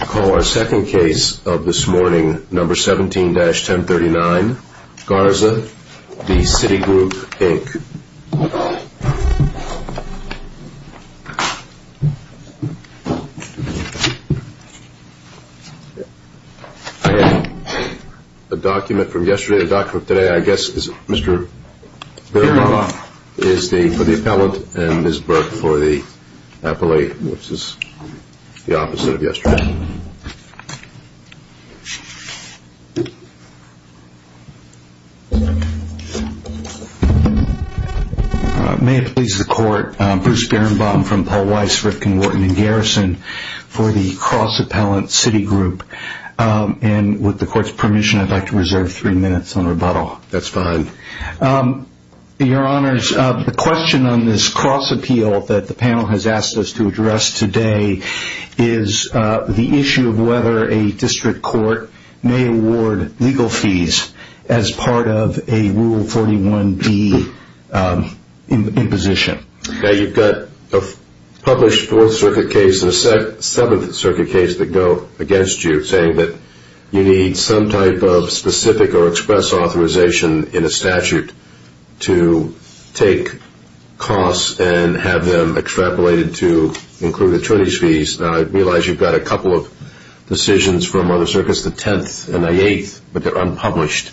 I call our second case of this morning, number 17-1039, Garza v. Citi Group Inc. I have a document from yesterday and a document from today. I guess Mr. Bilba is for the appellant and Ms. Burke for the appellate. May it please the court, Bruce Berenbaum from Paul Weiss, Rifkin, Wharton & Garrison for the cross-appellant Citi Group and with the court's permission I'd like to reserve three minutes on rebuttal. The question on this cross-appeal that the panel has asked us to address today is the issue of whether a district court may award legal fees as part of a Rule 41B imposition. Now you've got a published 4th Circuit case and a 7th Circuit case that go against you saying that you need some type of specific or express authorization in a statute to take costs and have them extrapolated to include attorney's fees. Now I realize you've got a couple of decisions from other circuits, the 10th and the 8th, but they're unpublished.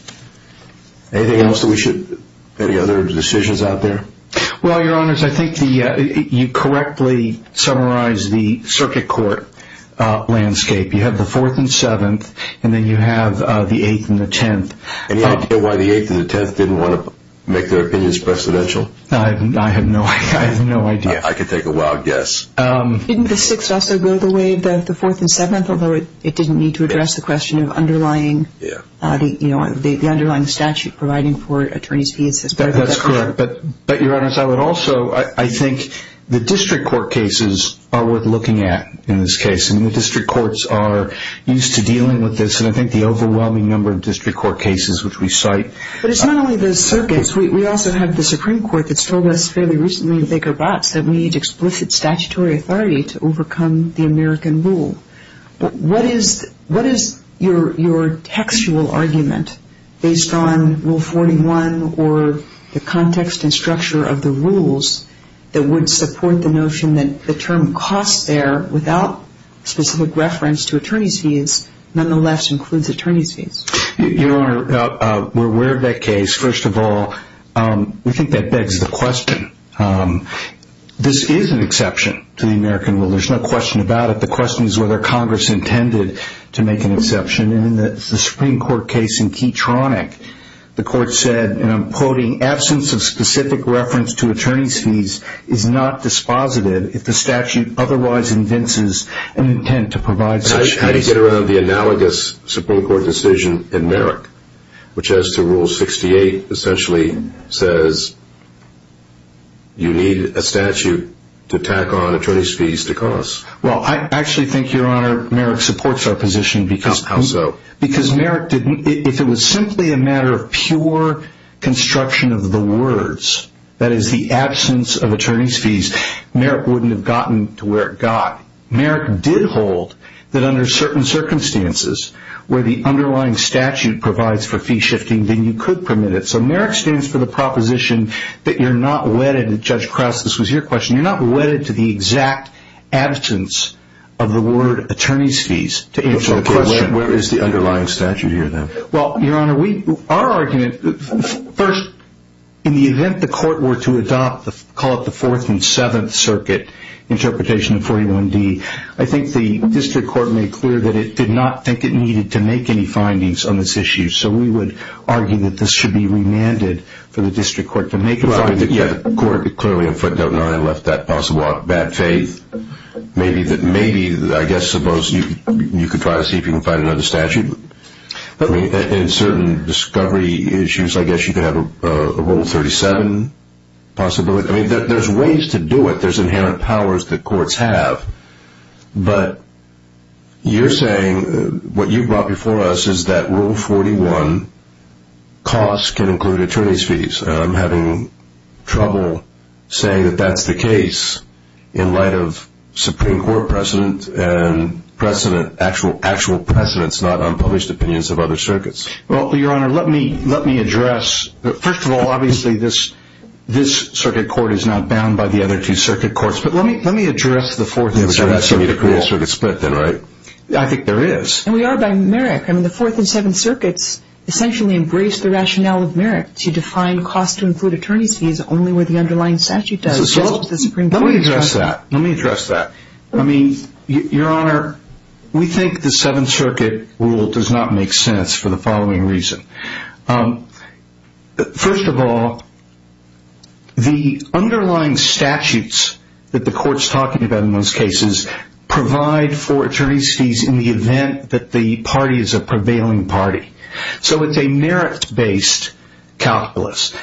Anything else that we should, any other decisions out there? Well, your honors, I think you correctly summarized the circuit court landscape. You have the 4th and 7th and then you have the 8th and the 10th. Any idea why the 8th and the 10th didn't want to make their opinions presidential? I have no idea. I could take a wild guess. Didn't the 6th also go the way of the 4th and 7th, although it didn't need to address the question of underlying, the underlying statute providing for attorney's fees as part of that court? That's correct, but your honors, I would also, I think the district court cases are worth looking at in this case. I mean the district courts are used to dealing with this and I think the overwhelming number of district court cases which we cite. But it's not only the circuits. We also have the Supreme Court that's told us fairly recently in Baker-Botz that we need explicit statutory authority to overcome the American rule. What is your textual argument based on Rule 41 or the context and structure of the rules that would support the notion that the term costs there without specific reference to attorney's fees, nonetheless includes attorney's fees? Your honor, we're aware of that case. First of all, we think that begs the question. This is an exception to the American rule. There's no question about it. The question is whether Congress intended to make an exception. In the Supreme Court case in Keytronic, the court said, and I'm quoting, absence of specific reference to attorney's fees is not dispositive if the statute otherwise invents an intent to provide such fees. How do you get around the analogous Supreme Court decision in Merrick, which as to Rule 68 essentially says you need a statute to tack on attorney's fees to cost? Well, I actually think, your honor, Merrick supports our position. How so? Because if it was simply a matter of pure construction of the words, that is the absence of attorney's fees, Merrick wouldn't have gotten to where it got. Merrick did hold that under certain circumstances where the underlying statute provides for fee shifting, then you could permit it. So Merrick stands for the proposition that you're not wedded, Judge Krauss, this was your question, you're not wedded to the exact absence of the word attorney's fees to answer the question. Okay, where is the underlying statute here then? Well, your honor, our argument, first, in the event the court were to adopt, call it the fourth and seventh circuit interpretation of 41D, I think the district court made clear that it did not think it needed to make any findings on this issue. So we would argue that this should be remanded for the district court to make a finding. Yeah, the court clearly in footnote 9 left that possible bad faith. Maybe, I guess, suppose you could try to see if you could find another statute. In certain discovery issues, I guess you could have a rule 37 possibility. I mean, there's ways to do it, there's inherent powers that courts have. But you're saying what you brought before us is that rule 41 costs can include attorney's fees. I'm having trouble saying that that's the case in light of Supreme Court precedent and actual precedents, not unpublished opinions of other circuits. Well, your honor, let me address, first of all, obviously, this circuit court is not bound by the other two circuit courts. But let me address the fourth and seventh circuit rule. Yeah, but you're asking me to create a circuit split then, right? I think there is. And we are by merit. I mean, the fourth and seventh circuits essentially embrace the rationale of merit to define cost to include attorney's fees only where the underlying statute does. Let me address that. Let me address that. I mean, your honor, we think the seventh circuit rule does not make sense for the following reason. First of all, the underlying statutes that the court's talking about in those cases provide for attorney's fees in the event that the party is a prevailing party. So it's a merit-based calculus.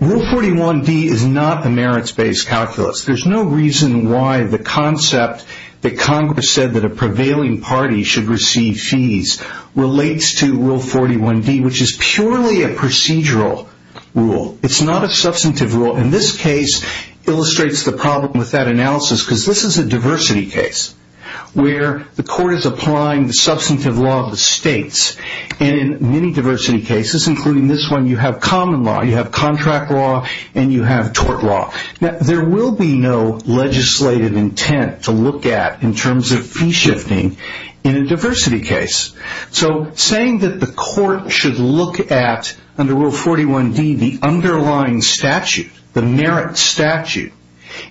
Rule 41D is not a merit-based calculus. There's no reason why the concept that Congress said that a prevailing party should receive fees relates to Rule 41D, which is purely a procedural rule. It's not a substantive rule. And this case illustrates the problem with that analysis because this is a diversity case where the court is applying the substantive law of the states. And in many diversity cases, including this one, you have common law, you have contract law, and you have tort law. Now, there will be no legislative intent to look at in terms of fee shifting in a diversity case. So saying that the court should look at, under Rule 41D, the underlying statute, the merit statute,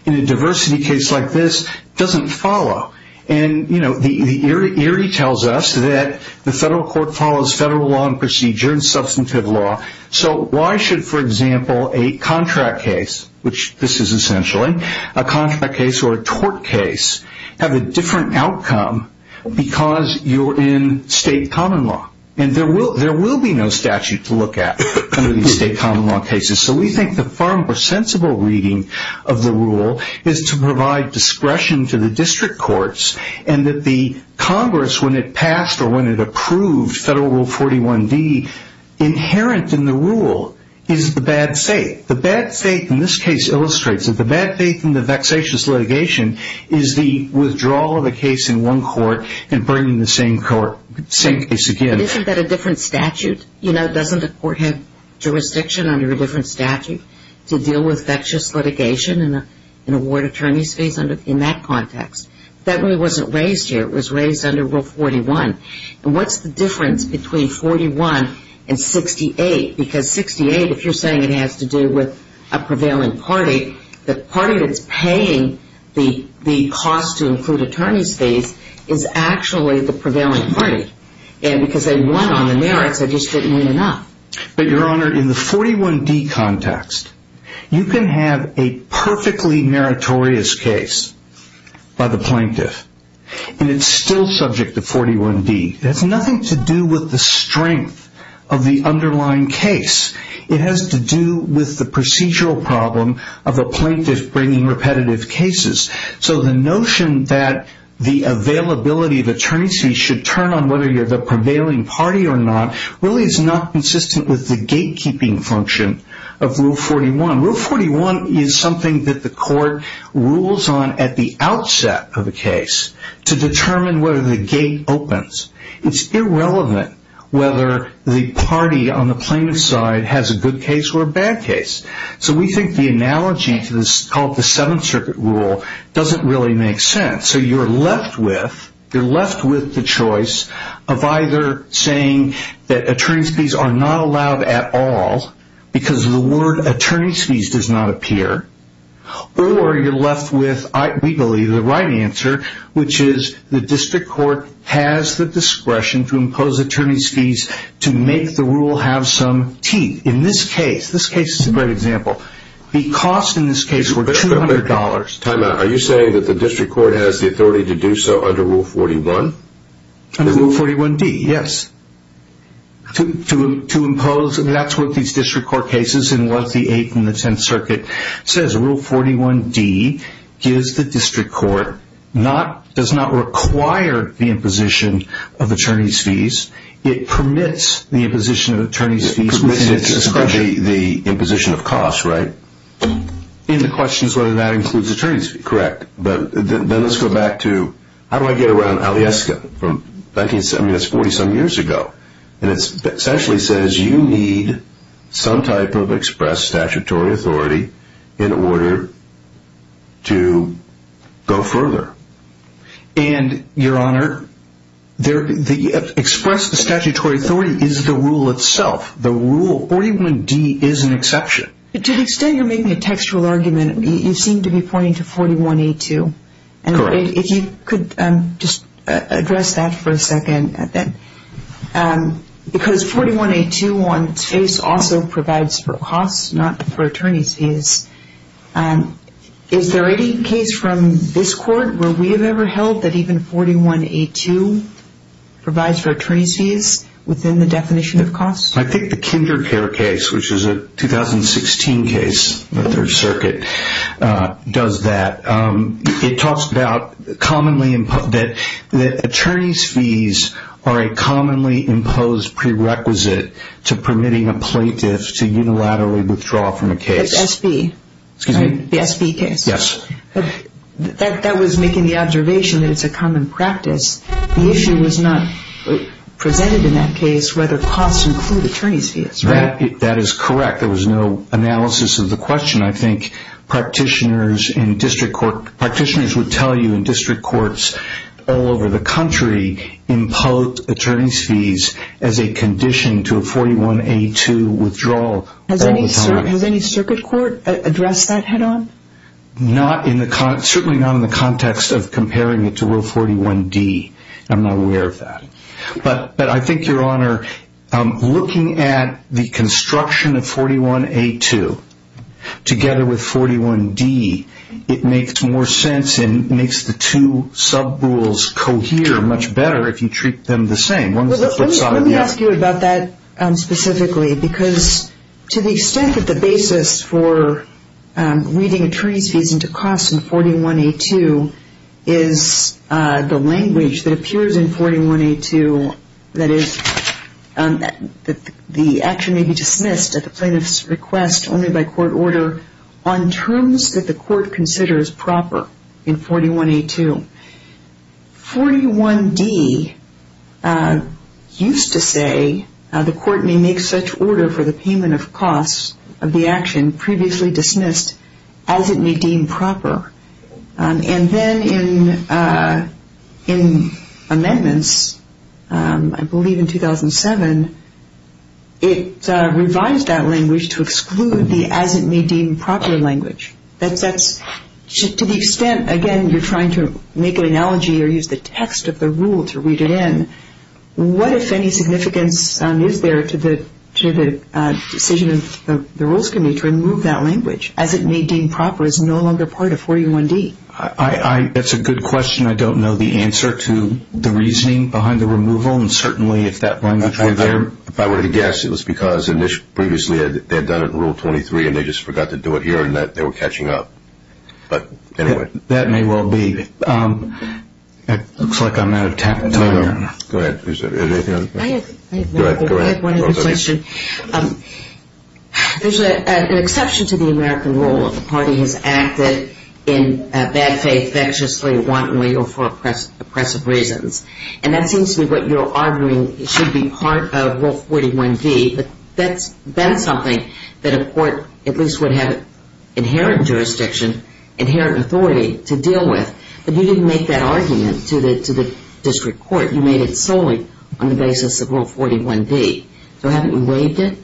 in a diversity case like this doesn't follow. And, you know, the eerie tells us that the federal court follows federal law and procedure and substantive law. So why should, for example, a contract case, which this is essentially, a contract case or a tort case, have a different outcome because you're in state common law? And there will be no statute to look at under these state common law cases. So we think the far more sensible reading of the rule is to provide discretion to the district courts and that the Congress, when it passed or when it approved Federal Rule 41D, inherent in the rule is the bad faith. The bad faith in this case illustrates that the bad faith in the vexatious litigation is the withdrawal of a case in one court and bringing the same court, same case again. But isn't that a different statute? You know, doesn't the court have jurisdiction under a different statute to deal with vexatious litigation and award attorney's fees in that context? That rule wasn't raised here. It was raised under Rule 41. And what's the difference between 41 and 68? Because 68, if you're saying it has to do with a prevailing party, the party that's paying the cost to include attorney's fees is actually the prevailing party. And because they won on the merits, they just didn't win enough. But, Your Honor, in the 41D context, you can have a perfectly meritorious case by the plaintiff, and it's still subject to 41D. That's nothing to do with the strength of the underlying case. It has to do with the procedural problem of a plaintiff bringing repetitive cases. So the notion that the availability of attorney's fees should turn on whether you're the prevailing party or not really is not consistent with the gatekeeping function of Rule 41. Rule 41 is something that the court rules on at the outset of a case to determine whether the gate opens. It's irrelevant whether the party on the plaintiff's side has a good case or a bad case. So we think the analogy to this called the Seventh Circuit Rule doesn't really make sense. So you're left with the choice of either saying that attorney's fees are not allowed at all because the word attorney's fees does not appear, or you're left with, we believe, the right answer, which is the district court has the discretion to impose attorney's fees to make the rule have some teeth. In this case, this case is a great example. The cost in this case were $200. Time out. Are you saying that the district court has the authority to do so under Rule 41? Under Rule 41D, yes. To impose, that's what these district court cases and what the Eighth and the Tenth Circuit says. Rule 41D gives the district court, does not require the imposition of attorney's fees. It permits the imposition of attorney's fees within its discretion. Permits the imposition of costs, right? And the question is whether that includes attorney's fees. Correct. But then let's go back to, how do I get around Alyeska from 1947 years ago? And it essentially says you need some type of express statutory authority in order to go further. And, Your Honor, the express statutory authority is the rule itself. The Rule 41D is an exception. To the extent you're making a textual argument, you seem to be pointing to 41A2. Correct. If you could just address that for a second. Because 41A2 on its face also provides for costs, not for attorney's fees. Is there any case from this court where we have ever held that even 41A2 provides for attorney's fees within the definition of costs? I think the Kindercare case, which is a 2016 case in the Third Circuit, does that. It talks about that attorney's fees are a commonly imposed prerequisite to permitting a plaintiff to unilaterally withdraw from a case. The SB case? Yes. That was making the observation that it's a common practice. The issue was not presented in that case whether costs include attorney's fees, right? That is correct. There was no analysis of the question. I think practitioners in district court, practitioners would tell you in district courts all over the country, impose attorney's fees as a condition to a 41A2 withdrawal. Has any circuit court addressed that head-on? Certainly not in the context of comparing it to Rule 41D. I'm not aware of that. But I think, Your Honor, looking at the construction of 41A2 together with 41D, it makes more sense and makes the two sub-rules cohere much better if you treat them the same. Let me ask you about that specifically, because to the extent that the basis for reading attorney's fees into costs in 41A2 is the language that appears in 41A2, that is, the action may be dismissed at the plaintiff's request only by court order on terms that the court considers proper in 41A2. 41D used to say, the court may make such order for the payment of costs of the action previously dismissed as it may deem proper. And then in amendments, I believe in 2007, it revised that language to exclude the as it may deem proper language. To the extent, again, you're trying to make an analogy or use the text of the rule to read it in, what, if any, significance is there to the decision of the rules committee to remove that language as it may deem proper is no longer part of 41D? That's a good question. I don't know the answer to the reasoning behind the removal. And certainly if that language were there. If I were to guess, it was because previously they had done it in Rule 23 and they just forgot to do it here and they were catching up. But anyway. That may well be. It looks like I'm out of time. No, no. Go ahead. Go ahead. I have one other question. There's an exception to the American rule if the party has acted in bad faith, vexedly, wantonly, or for oppressive reasons. And that seems to be what you're arguing should be part of Rule 41D. But that's been something that a court at least would have inherent jurisdiction, inherent authority to deal with. But you didn't make that argument to the district court. You made it solely on the basis of Rule 41D. So haven't we waived it?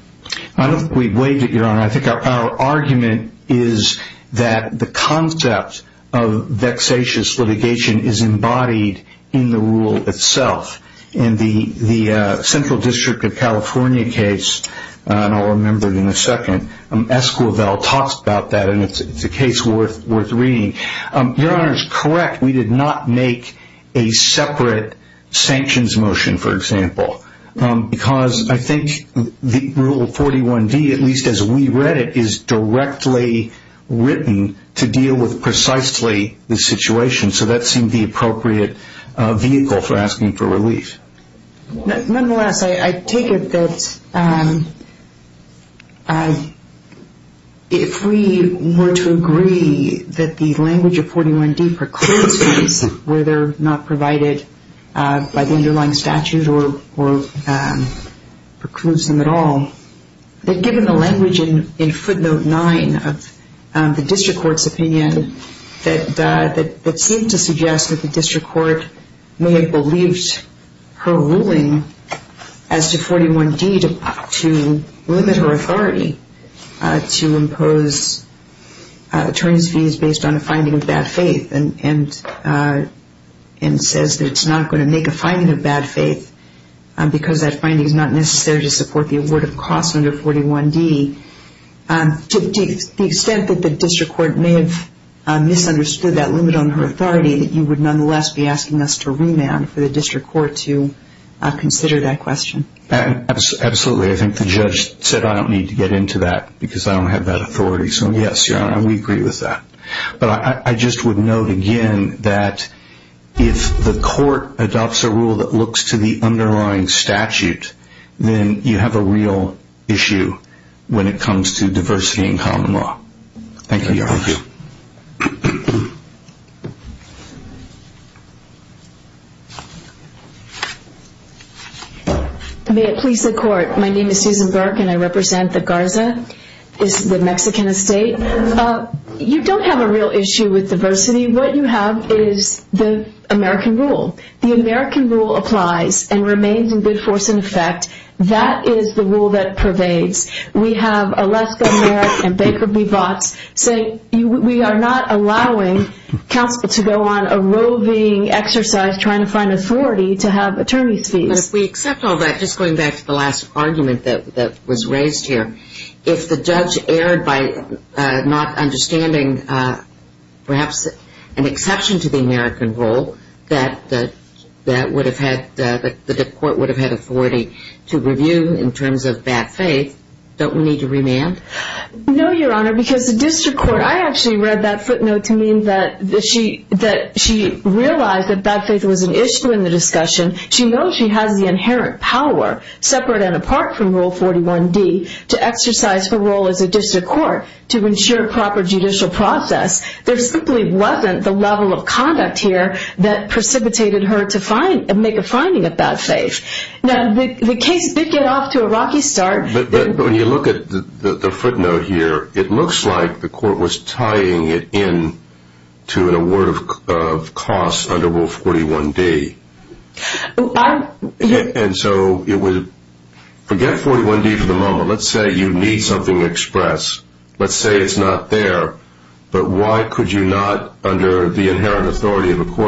I don't think we've waived it, Your Honor. I think our argument is that the concept of vexatious litigation is embodied in the rule itself. In the Central District of California case, and I'll remember it in a second, Esquivel talks about that, and it's a case worth reading. Your Honor is correct. We did not make a separate sanctions motion, for example, because I think the Rule 41D, at least as we read it, is directly written to deal with precisely the situation. So that seemed the appropriate vehicle for asking for relief. Nonetheless, I take it that if we were to agree that the language of 41D precludes things where they're not provided by the underlying statute or precludes them at all, that given the language in footnote 9 of the district court's opinion that seemed to suggest that the district court may have believed her ruling as to 41D to limit her authority to impose attorneys' fees based on a finding of bad faith and says that it's not going to make a finding of bad faith because that finding is not necessary to support the award of costs under 41D, to the extent that the district court may have misunderstood that limit on her authority, that you would nonetheless be asking us to remand for the district court to consider that question? Absolutely. I think the judge said I don't need to get into that because I don't have that authority. So, yes, Your Honor, we agree with that. But I just would note again that if the court adopts a rule that looks to the underlying statute, then you have a real issue when it comes to diversity in common law. Thank you, Your Honor. Thank you. May it please the Court. My name is Susan Burke and I represent the Garza, the Mexican estate. You don't have a real issue with diversity. What you have is the American rule. The American rule applies and remains in good force and effect. That is the rule that pervades. We have Aleska Merrick and Baker Bevotz say we are not allowing counsel to go on a roving exercise trying to find authority to have attorneys' fees. But if we accept all that, just going back to the last argument that was raised here, if the judge erred by not understanding perhaps an exception to the American rule that the court would have had authority to review in terms of bad faith, don't we need to remand? No, Your Honor, because the district court, I actually read that footnote to mean that she realized that bad faith was an issue in the discussion. She knows she has the inherent power, separate and apart from Rule 41D, to exercise her role as a district court to ensure proper judicial process. There simply wasn't the level of conduct here that precipitated her to make a finding of bad faith. Now, the case did get off to a rocky start. But when you look at the footnote here, it looks like the court was tying it in to an award of costs under Rule 41D. Forget 41D for the moment. Let's say you need something expressed. Let's say it's not there. But why could you not, under the inherent authority of a court,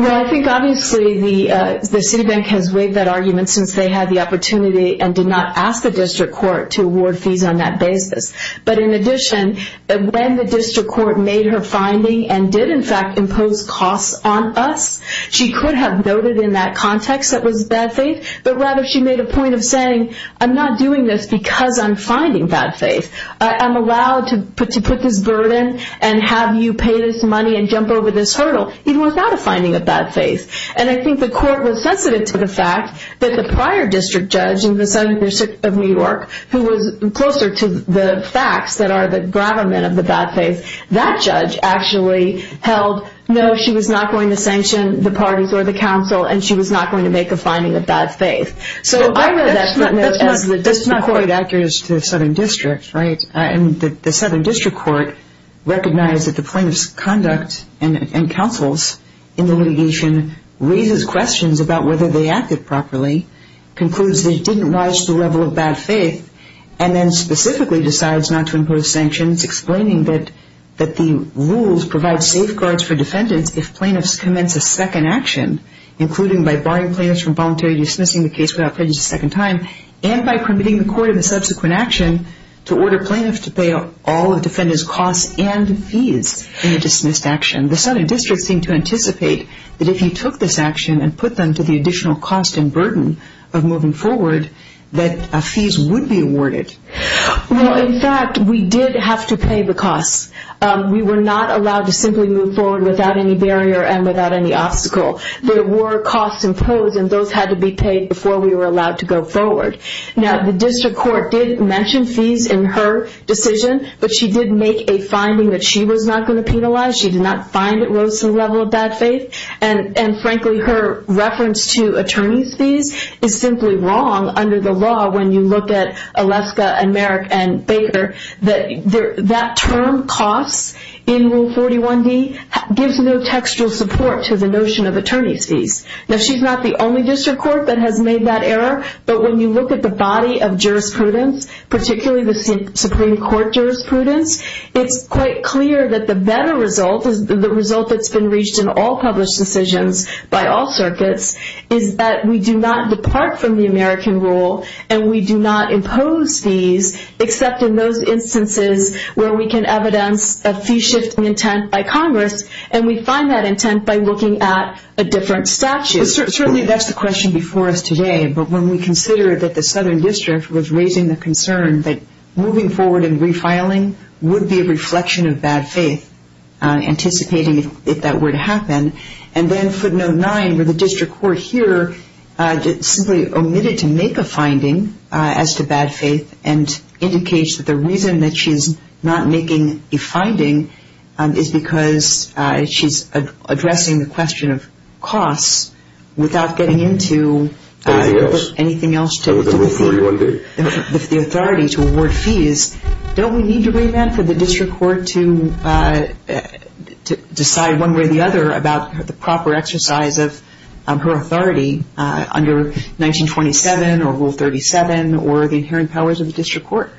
Well, I think obviously the Citibank has waived that argument since they had the opportunity and did not ask the district court to award fees on that basis. But in addition, when the district court made her finding and did in fact impose costs on us, she could have noted in that context that it was bad faith, but rather she made a point of saying, I'm not doing this because I'm finding bad faith. I'm allowed to put this burden and have you pay this money and jump over this hurdle. It was not a finding of bad faith. And I think the court was sensitive to the fact that the prior district judge in the Southern District of New York, who was closer to the facts that are the gravamen of the bad faith, that judge actually held, no, she was not going to sanction the parties or the council, and she was not going to make a finding of bad faith. So I read that footnote as the district court. That's not quite accurate as to the Southern District, right? And the Southern District Court recognized that the plaintiff's conduct and counsel's in the litigation raises questions about whether they acted properly, concludes they didn't rise to the level of bad faith, and then specifically decides not to impose sanctions, explaining that the rules provide safeguards for defendants if plaintiffs commence a second action, including by barring plaintiffs from voluntarily dismissing the case without prejudice a second time, and by permitting the court in the subsequent action to order plaintiffs to pay all of the defendant's costs and fees in a dismissed action. The Southern District seemed to anticipate that if you took this action and put them to the additional cost and burden of moving forward, that fees would be awarded. Well, in fact, we did have to pay the costs. We were not allowed to simply move forward without any barrier and without any obstacle. There were costs imposed, and those had to be paid before we were allowed to go forward. Now, the district court did mention fees in her decision, but she did make a finding that she was not going to penalize. She did not find it rose to the level of bad faith. And, frankly, her reference to attorney's fees is simply wrong under the law when you look at Aleska and Merrick and Baker. That term, costs, in Rule 41D, gives no textual support to the notion of attorney's fees. Now, she's not the only district court that has made that error, but when you look at the body of jurisprudence, particularly the Supreme Court jurisprudence, it's quite clear that the better result, the result that's been reached in all published decisions by all circuits, is that we do not depart from the American rule and we do not impose fees except in those instances where we can evidence a fee-shifting intent by Congress, and we find that intent by looking at a different statute. Certainly, that's the question before us today, but when we consider that the Southern District was raising the concern that moving forward and refiling would be a reflection of bad faith, anticipating if that were to happen, and then footnote 9, where the district court here simply omitted to make a finding as to bad faith and indicates that the reason that she's not making a finding is because she's addressing the question of costs without getting into anything else to the authority to award fees, don't we need to remand for the district court to decide one way or the other about the proper exercise of her authority under 1927 or Rule 37 or the inherent powers of the district court?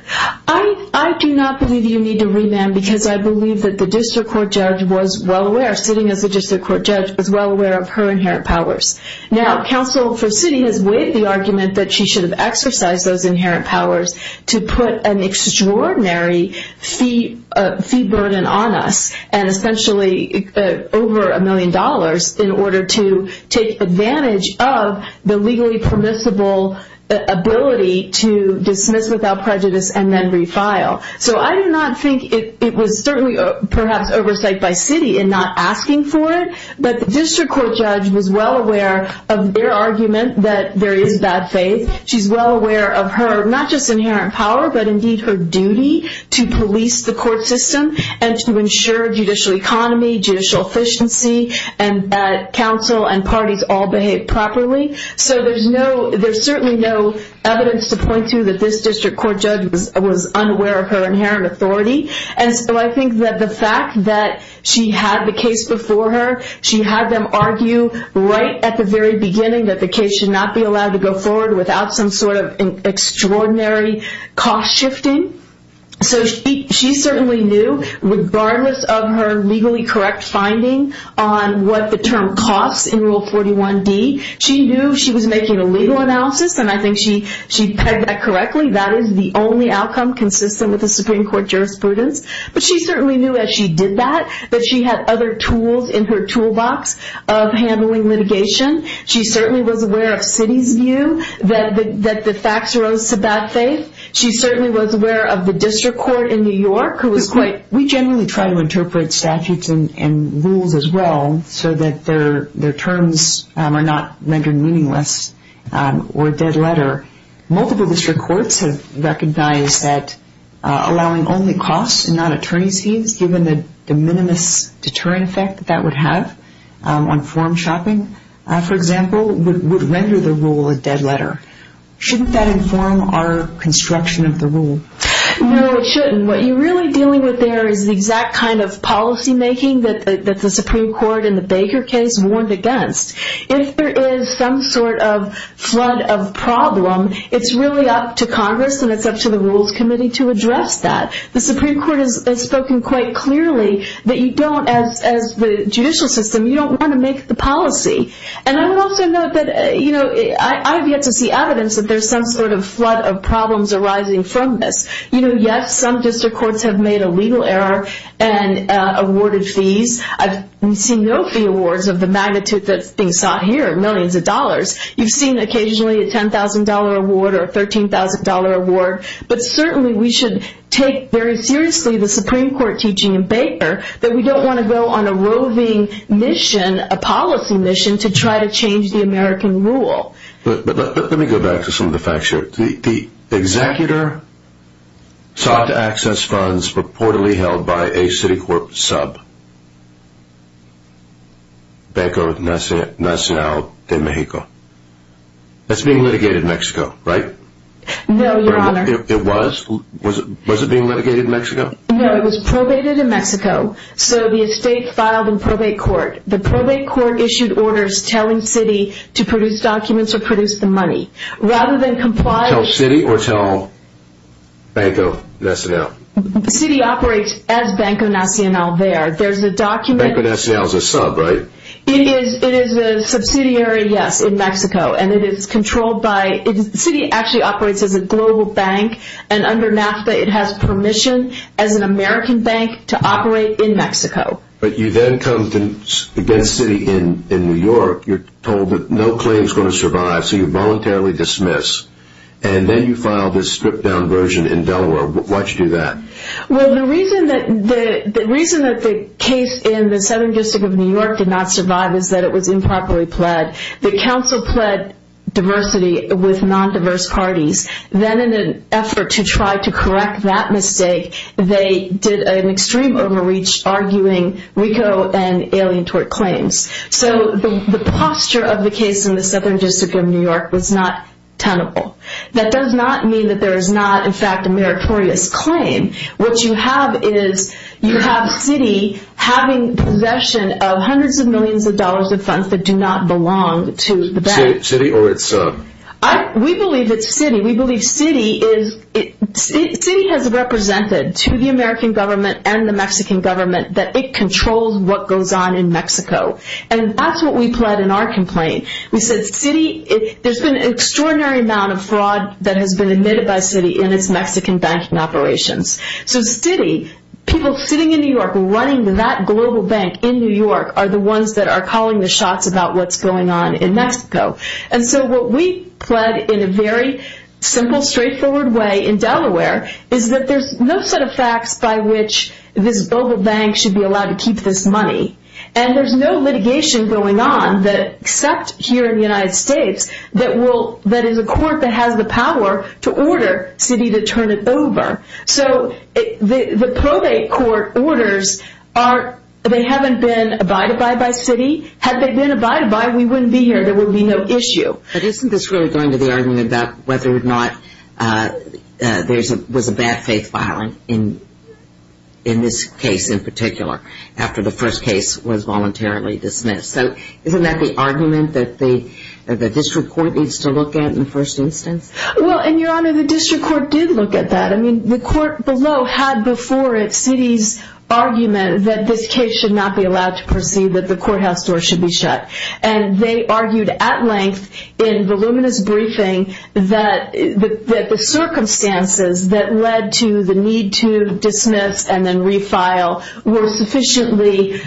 I do not believe you need to remand because I believe that the district court judge was well aware, sitting as a district court judge, was well aware of her inherent powers. Now, counsel for sitting has weighed the argument that she should have exercised those inherent powers to put an extraordinary fee burden on us and essentially over a million dollars in order to take advantage of the legally permissible ability to dismiss without prejudice and then refile. So I do not think it was certainly perhaps oversight by city in not asking for it, but the district court judge was well aware of their argument that there is bad faith. She's well aware of her, not just inherent power, but indeed her duty to police the court system and to ensure judicial economy, judicial efficiency, and that counsel and parties all behave properly. So there's certainly no evidence to point to that this district court judge was unaware of her inherent authority. And so I think that the fact that she had the case before her, she had them argue right at the very beginning that the case should not be allowed to go forward without some sort of extraordinary cost shifting. So she certainly knew, regardless of her legally correct finding on what the term costs in Rule 41D, she knew she was making a legal analysis, and I think she pegged that correctly. That is the only outcome consistent with the Supreme Court jurisprudence. But she certainly knew as she did that that she had other tools in her toolbox of handling litigation. She certainly was aware of Citi's view that the facts arose to bad faith. She certainly was aware of the district court in New York who was quite... We generally try to interpret statutes and rules as well so that their terms are not rendered meaningless or dead letter. Multiple district courts have recognized that allowing only costs and not attorney's fees, given the de minimis deterrent effect that would have on form shopping, for example, would render the rule a dead letter. Shouldn't that inform our construction of the rule? No, it shouldn't. What you're really dealing with there is the exact kind of policymaking that the Supreme Court in the Baker case warned against. If there is some sort of flood of problem, it's really up to Congress and it's up to the Rules Committee to address that. The Supreme Court has spoken quite clearly that you don't, as the judicial system, you don't want to make the policy. And I would also note that I have yet to see evidence that there's some sort of flood of problems arising from this. Yes, some district courts have made a legal error and awarded fees. I've seen no fee awards of the magnitude that's being sought here, millions of dollars. You've seen occasionally a $10,000 award or a $13,000 award. But certainly we should take very seriously the Supreme Court teaching in Baker that we don't want to go on a roving mission, a policy mission, to try to change the American rule. Let me go back to some of the facts here. The executor sought to access funds reportedly held by a Citicorp sub, Banco Nacional de Mexico. That's being litigated in Mexico, right? No, Your Honor. It was? Was it being litigated in Mexico? No, it was probated in Mexico. So the estate filed in probate court. The probate court issued orders telling Citi to produce documents or produce the money. Tell Citi or tell Banco Nacional? Citi operates as Banco Nacional there. Banco Nacional is a sub, right? It is a subsidiary, yes, in Mexico. Citi actually operates as a global bank, and under NAFTA it has permission as an American bank to operate in Mexico. But you then come against Citi in New York. You're told that no claim is going to survive, so you voluntarily dismiss. And then you file this stripped-down version in Delaware. Why'd you do that? Well, the reason that the case in the Southern District of New York did not survive is that it was improperly pled. The council pled diversity with non-diverse parties. Then in an effort to try to correct that mistake, they did an extreme overreach, arguing RICO and alien tort claims. So the posture of the case in the Southern District of New York was not tenable. That does not mean that there is not, in fact, a meritorious claim. What you have is you have Citi having possession of hundreds of millions of dollars of funds that do not belong to the bank. Citi, or it's... We believe it's Citi. We believe Citi has represented to the American government and the Mexican government that it controls what goes on in Mexico. And that's what we pled in our complaint. We said Citi, there's been an extraordinary amount of fraud that has been admitted by Citi in its Mexican banking operations. So Citi, people sitting in New York running that global bank in New York are the ones that are calling the shots about what's going on in Mexico. And so what we pled in a very simple, straightforward way in Delaware is that there's no set of facts by which this global bank should be allowed to keep this money. And there's no litigation going on except here in the United States that is a court that has the power to order Citi to turn it over. So the probate court orders, they haven't been abided by by Citi. Had they been abided by, we wouldn't be here. There would be no issue. But isn't this really going to the argument about whether or not there was a bad faith filing in this case in particular after the first case was voluntarily dismissed? So isn't that the argument that the district court needs to look at in the first instance? Well, and, Your Honor, the district court did look at that. I mean, the court below had before it Citi's argument that this case should not be allowed to proceed, that the courthouse door should be shut. And they argued at length in voluminous briefing that the circumstances that led to the need to dismiss and then refile were sufficiently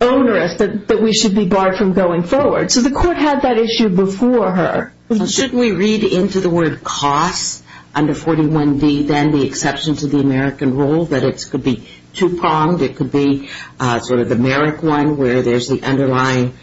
onerous that we should be barred from going forward. So the court had that issue before her. Shouldn't we read into the word cost under 41D then the exception to the American rule that it could be two-pronged, it could be sort of the Merrick one where there's the underlying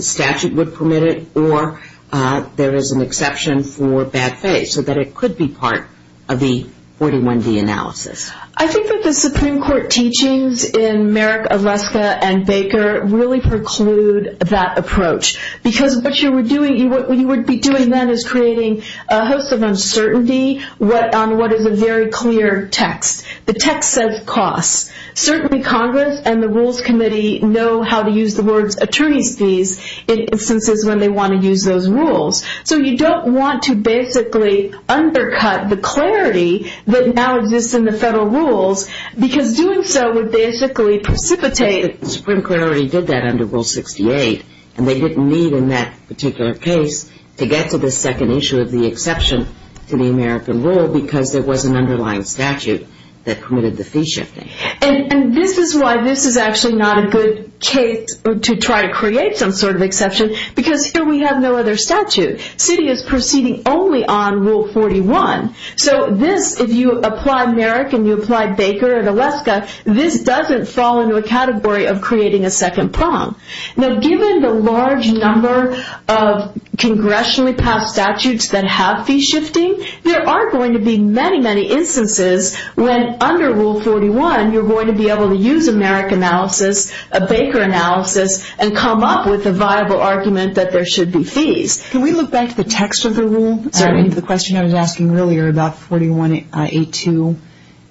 statute would permit it, or there is an exception for bad faith so that it could be part of the 41D analysis? I think that the Supreme Court teachings in Merrick, Aleska, and Baker really preclude that approach because what you would be doing then is creating a host of uncertainty on what is a very clear text. The text says cost. Certainly Congress and the Rules Committee know how to use the word attorney's fees in instances when they want to use those rules. So you don't want to basically undercut the clarity that now exists in the federal rules because doing so would basically precipitate it. The Supreme Court already did that under Rule 68, and they didn't need in that particular case to get to the second issue of the exception to the American rule because there was an underlying statute that permitted the fee shifting. And this is why this is actually not a good case to try to create some sort of exception because here we have no other statute. Citi is proceeding only on Rule 41. So this, if you apply Merrick and you apply Baker and Aleska, this doesn't fall into a category of creating a second prong. Now given the large number of congressionally passed statutes that have fee shifting, there are going to be many, many instances when under Rule 41 you're going to be able to use a Merrick analysis, a Baker analysis, and come up with a viable argument that there should be fees. Can we look back to the text of the rule? The question I was asking earlier about 41A2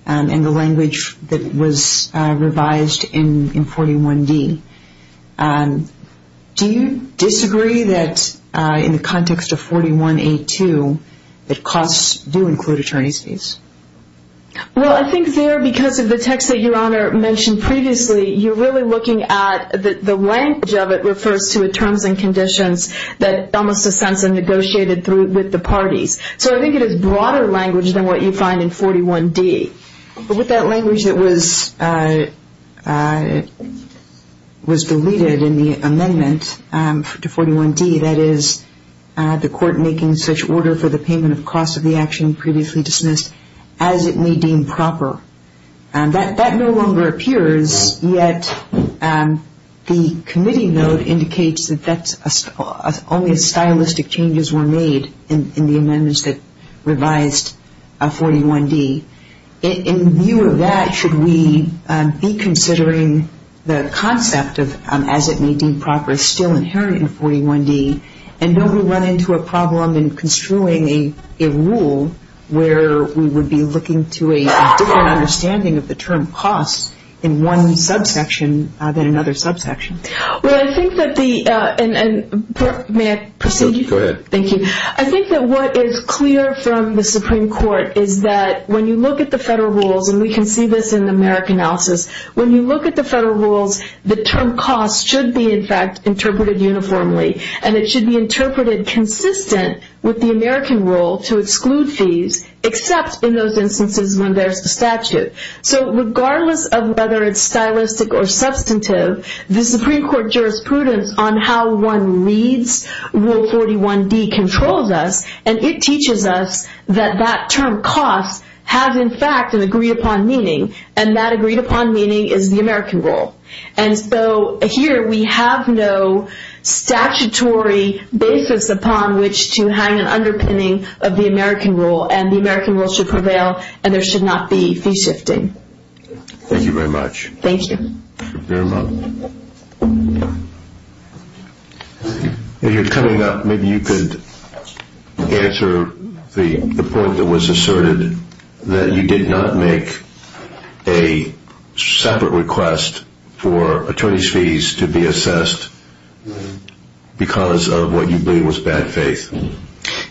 and the language that was revised in 41D. Do you disagree that in the context of 41A2 that costs do include attorney's fees? Well, I think there because of the text that Your Honor mentioned previously, you're really looking at the language of it refers to the terms and conditions that Thomas Sensen negotiated with the parties. So I think it is broader language than what you find in 41D. But with that language that was deleted in the amendment to 41D, that is the court making such order for the payment of costs of the action previously dismissed as it may deem proper, that no longer appears, yet the committee note indicates that only stylistic changes were made in the amendments that revised 41D. In view of that, should we be considering the concept of as it may deem proper still inherent in 41D, and don't we run into a problem in construing a rule where we would be looking to a different understanding of the term cost in one subsection than another subsection? Well, I think that the, and may I proceed? Go ahead. Thank you. I think that what is clear from the Supreme Court is that when you look at the federal rules, and we can see this in the merit analysis, when you look at the federal rules, the term cost should be in fact interpreted uniformly, and it should be interpreted consistent with the American rule to exclude fees, except in those instances when there's a statute. So regardless of whether it's stylistic or substantive, the Supreme Court jurisprudence on how one reads Rule 41D controls us, and it teaches us that that term cost has in fact an agreed-upon meaning, and that agreed-upon meaning is the American rule. And so here we have no statutory basis upon which to hang an underpinning of the American rule, and the American rule should prevail, and there should not be fee shifting. Thank you very much. Thank you. You're welcome. If you're coming up, maybe you could answer the point that was asserted, that you did not make a separate request for attorney's fees to be assessed because of what you believe was bad faith.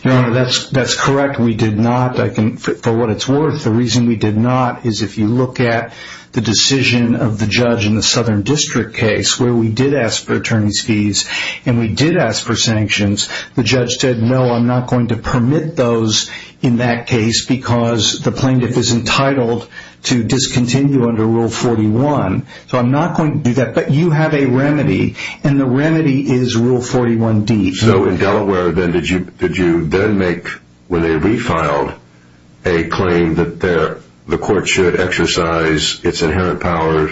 Your Honor, that's correct. We did not, for what it's worth. The reason we did not is if you look at the decision of the judge in the Southern District case, where we did ask for attorney's fees and we did ask for sanctions, the judge said, no, I'm not going to permit those in that case because the plaintiff is entitled to discontinue under Rule 41. So I'm not going to do that. But you have a remedy, and the remedy is Rule 41D. So in Delaware, did you then make, when they refiled, a claim that the court should exercise its inherent power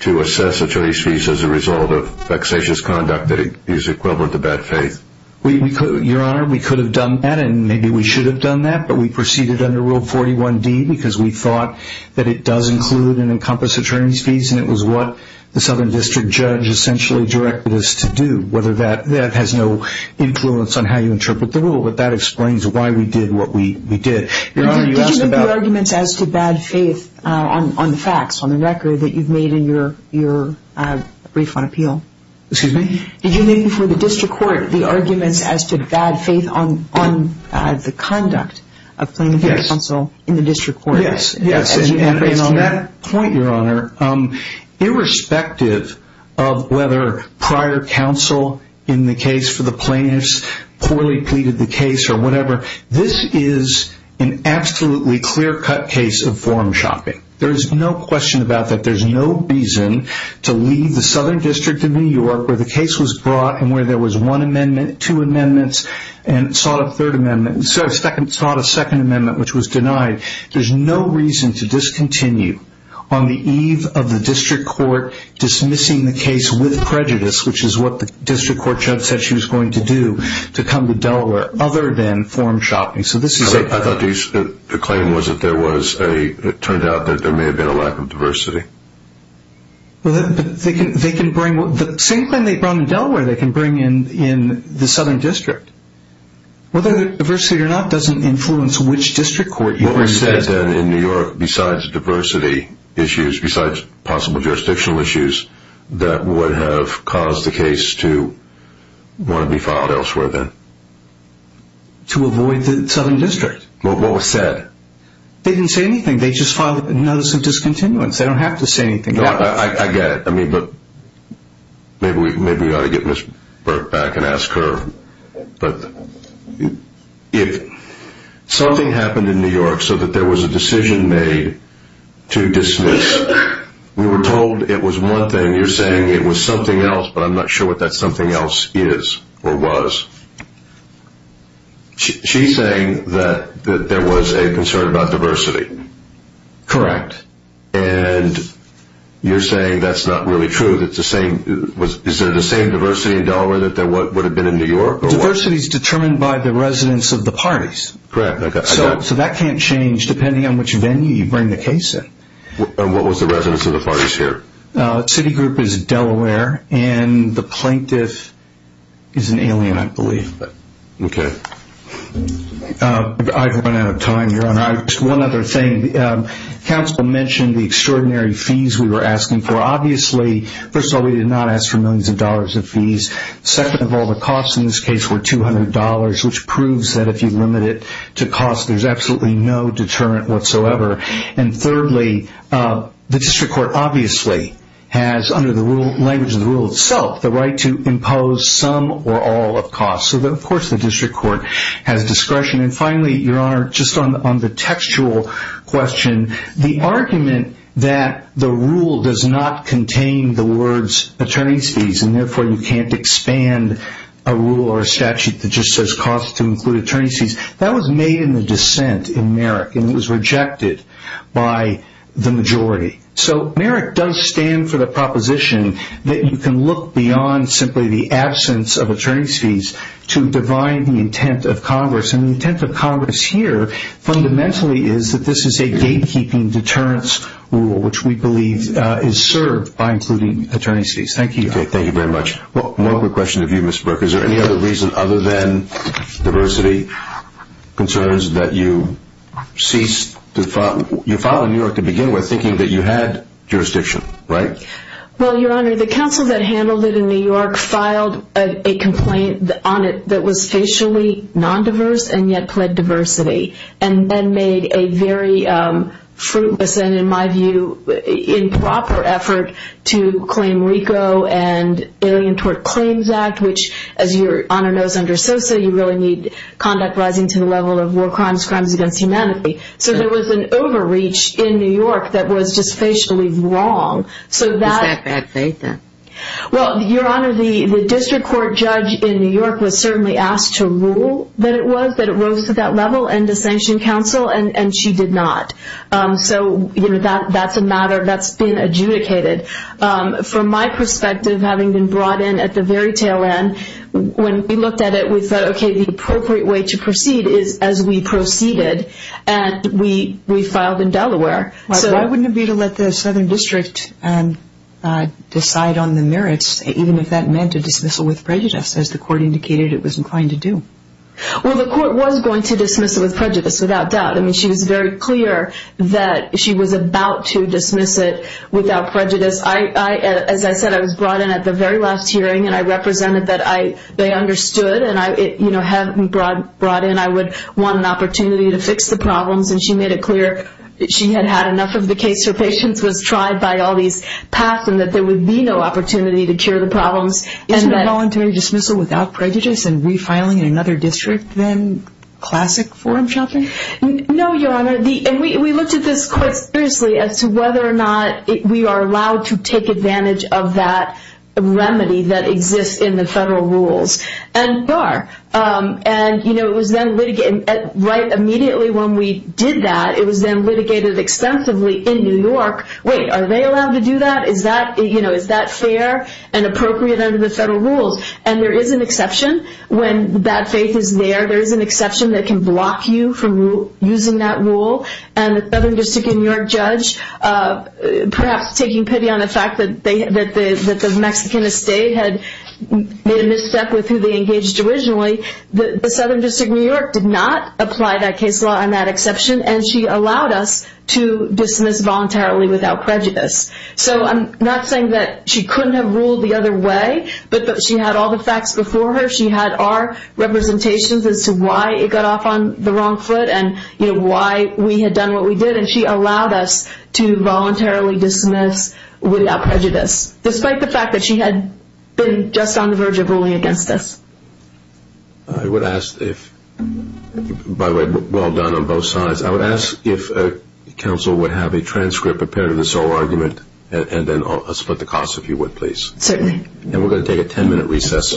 to assess attorney's fees as a result of vexatious conduct that is equivalent to bad faith? Your Honor, we could have done that, and maybe we should have done that, but we proceeded under Rule 41D because we thought that it does include and encompass attorney's fees, and it was what the Southern District judge essentially directed us to do. That has no influence on how you interpret the rule, but that explains why we did what we did. Your Honor, you asked about... Did you make the arguments as to bad faith on the facts, on the record, that you've made in your refund appeal? Excuse me? Did you make before the district court the arguments as to bad faith on the conduct of plaintiff counsel in the district court? Yes. And on that point, Your Honor, irrespective of whether prior counsel in the case for the plaintiffs poorly pleaded the case or whatever, this is an absolutely clear-cut case of form shopping. There is no question about that. There's no reason to leave the Southern District in New York where the case was brought and where there was one amendment, two amendments, and sought a second amendment which was denied. There's no reason to discontinue on the eve of the district court dismissing the case with prejudice, which is what the district court judge said she was going to do to come to Delaware, other than form shopping. I thought the claim was that there was a... It turned out that there may have been a lack of diversity. Well, they can bring... The same claim they brought in Delaware they can bring in the Southern District. Whether there's diversity or not doesn't influence which district court... What were you saying then, in New York, besides diversity issues, besides possible jurisdictional issues, that would have caused the case to want to be filed elsewhere then? To avoid the Southern District. Well, what was said? They didn't say anything. They just filed a notice of discontinuance. They don't have to say anything else. I get it. I mean, look, maybe we ought to get Ms. Burke back and ask her. But if something happened in New York so that there was a decision made to dismiss, we were told it was one thing, you're saying it was something else, but I'm not sure what that something else is or was. She's saying that there was a concern about diversity. Correct. And you're saying that's not really true, that it's the same... Is there the same diversity in Delaware that there would have been in New York? Diversity is determined by the residence of the parties. Correct. So that can't change depending on which venue you bring the case in. And what was the residence of the parties here? The city group is Delaware, and the plaintiff is an alien, I believe. Okay. I've run out of time, Your Honor. Just one other thing. Counsel mentioned the extraordinary fees we were asking for. Obviously, first of all, we did not ask for millions of dollars of fees. Second of all, the costs in this case were $200, which proves that if you limit it to cost, there's absolutely no deterrent whatsoever. And thirdly, the district court obviously has, under the language of the rule itself, the right to impose some or all of costs. So, of course, the district court has discretion. And finally, Your Honor, just on the textual question, the argument that the rule does not contain the words attorney's fees and therefore you can't expand a rule or a statute that just says costs to include attorney's fees, that was made in the dissent in Merrick, and it was rejected by the majority. So Merrick does stand for the proposition that you can look beyond simply the absence of attorney's fees to divine the intent of Congress, and the intent of Congress here fundamentally is that this is a gatekeeping deterrence rule, which we believe is served by including attorney's fees. Thank you, Your Honor. Okay, thank you very much. One quick question of you, Mr. Brook. Is there any other reason other than diversity concerns that you ceased to file? You filed in New York to begin with thinking that you had jurisdiction, right? Well, Your Honor, the counsel that handled it in New York filed a complaint on it that was facially non-diverse and yet pled diversity, and then made a very fruitless and, in my view, improper effort to claim RICO and Alien Tort Claims Act, which, as Your Honor knows under SOSA, you really need conduct rising to the level of war crimes, crimes against humanity. So there was an overreach in New York that was just facially wrong. Is that bad faith then? Well, Your Honor, the district court judge in New York was certainly asked to rule that it was, that it rose to that level, and to sanction counsel, and she did not. So that's a matter that's been adjudicated. From my perspective, having been brought in at the very tail end, when we looked at it, we thought, okay, the appropriate way to proceed is as we proceeded, and we filed in Delaware. Why wouldn't it be to let the Southern District decide on the merits, even if that meant a dismissal with prejudice, as the court indicated it was inclined to do? Well, the court was going to dismiss it with prejudice, without doubt. I mean, she was very clear that she was about to dismiss it without prejudice. As I said, I was brought in at the very last hearing, and I represented that they understood, and having been brought in, I would want an opportunity to fix the problems, and she made it clear she had had enough of the case. Her patience was tried by all these paths, and that there would be no opportunity to cure the problems. Isn't a voluntary dismissal without prejudice and refiling in another district then classic forum shopping? No, Your Honor. We looked at this quite seriously as to whether or not we are allowed to take advantage of that remedy that exists in the federal rules, and we are. It was then litigated. Right immediately when we did that, it was then litigated extensively in New York. Wait, are they allowed to do that? Is that fair and appropriate under the federal rules? There is an exception when bad faith is there. There is an exception that can block you from using that rule, and the Southern District of New York judge perhaps taking pity on the fact that the Mexican estate had made a misstep with who they engaged originally, the Southern District of New York did not apply that case law on that exception, and she allowed us to dismiss voluntarily without prejudice. So I'm not saying that she couldn't have ruled the other way, but she had all the facts before her. She had our representations as to why it got off on the wrong foot and why we had done what we did, and she allowed us to voluntarily dismiss without prejudice, despite the fact that she had been just on the verge of ruling against us. I would ask if, by the way, well done on both sides. I would ask if counsel would have a transcript, a pair of the sole argument, and then I'll split the cost if you would, please. Certainly. And we're going to take a ten-minute recess.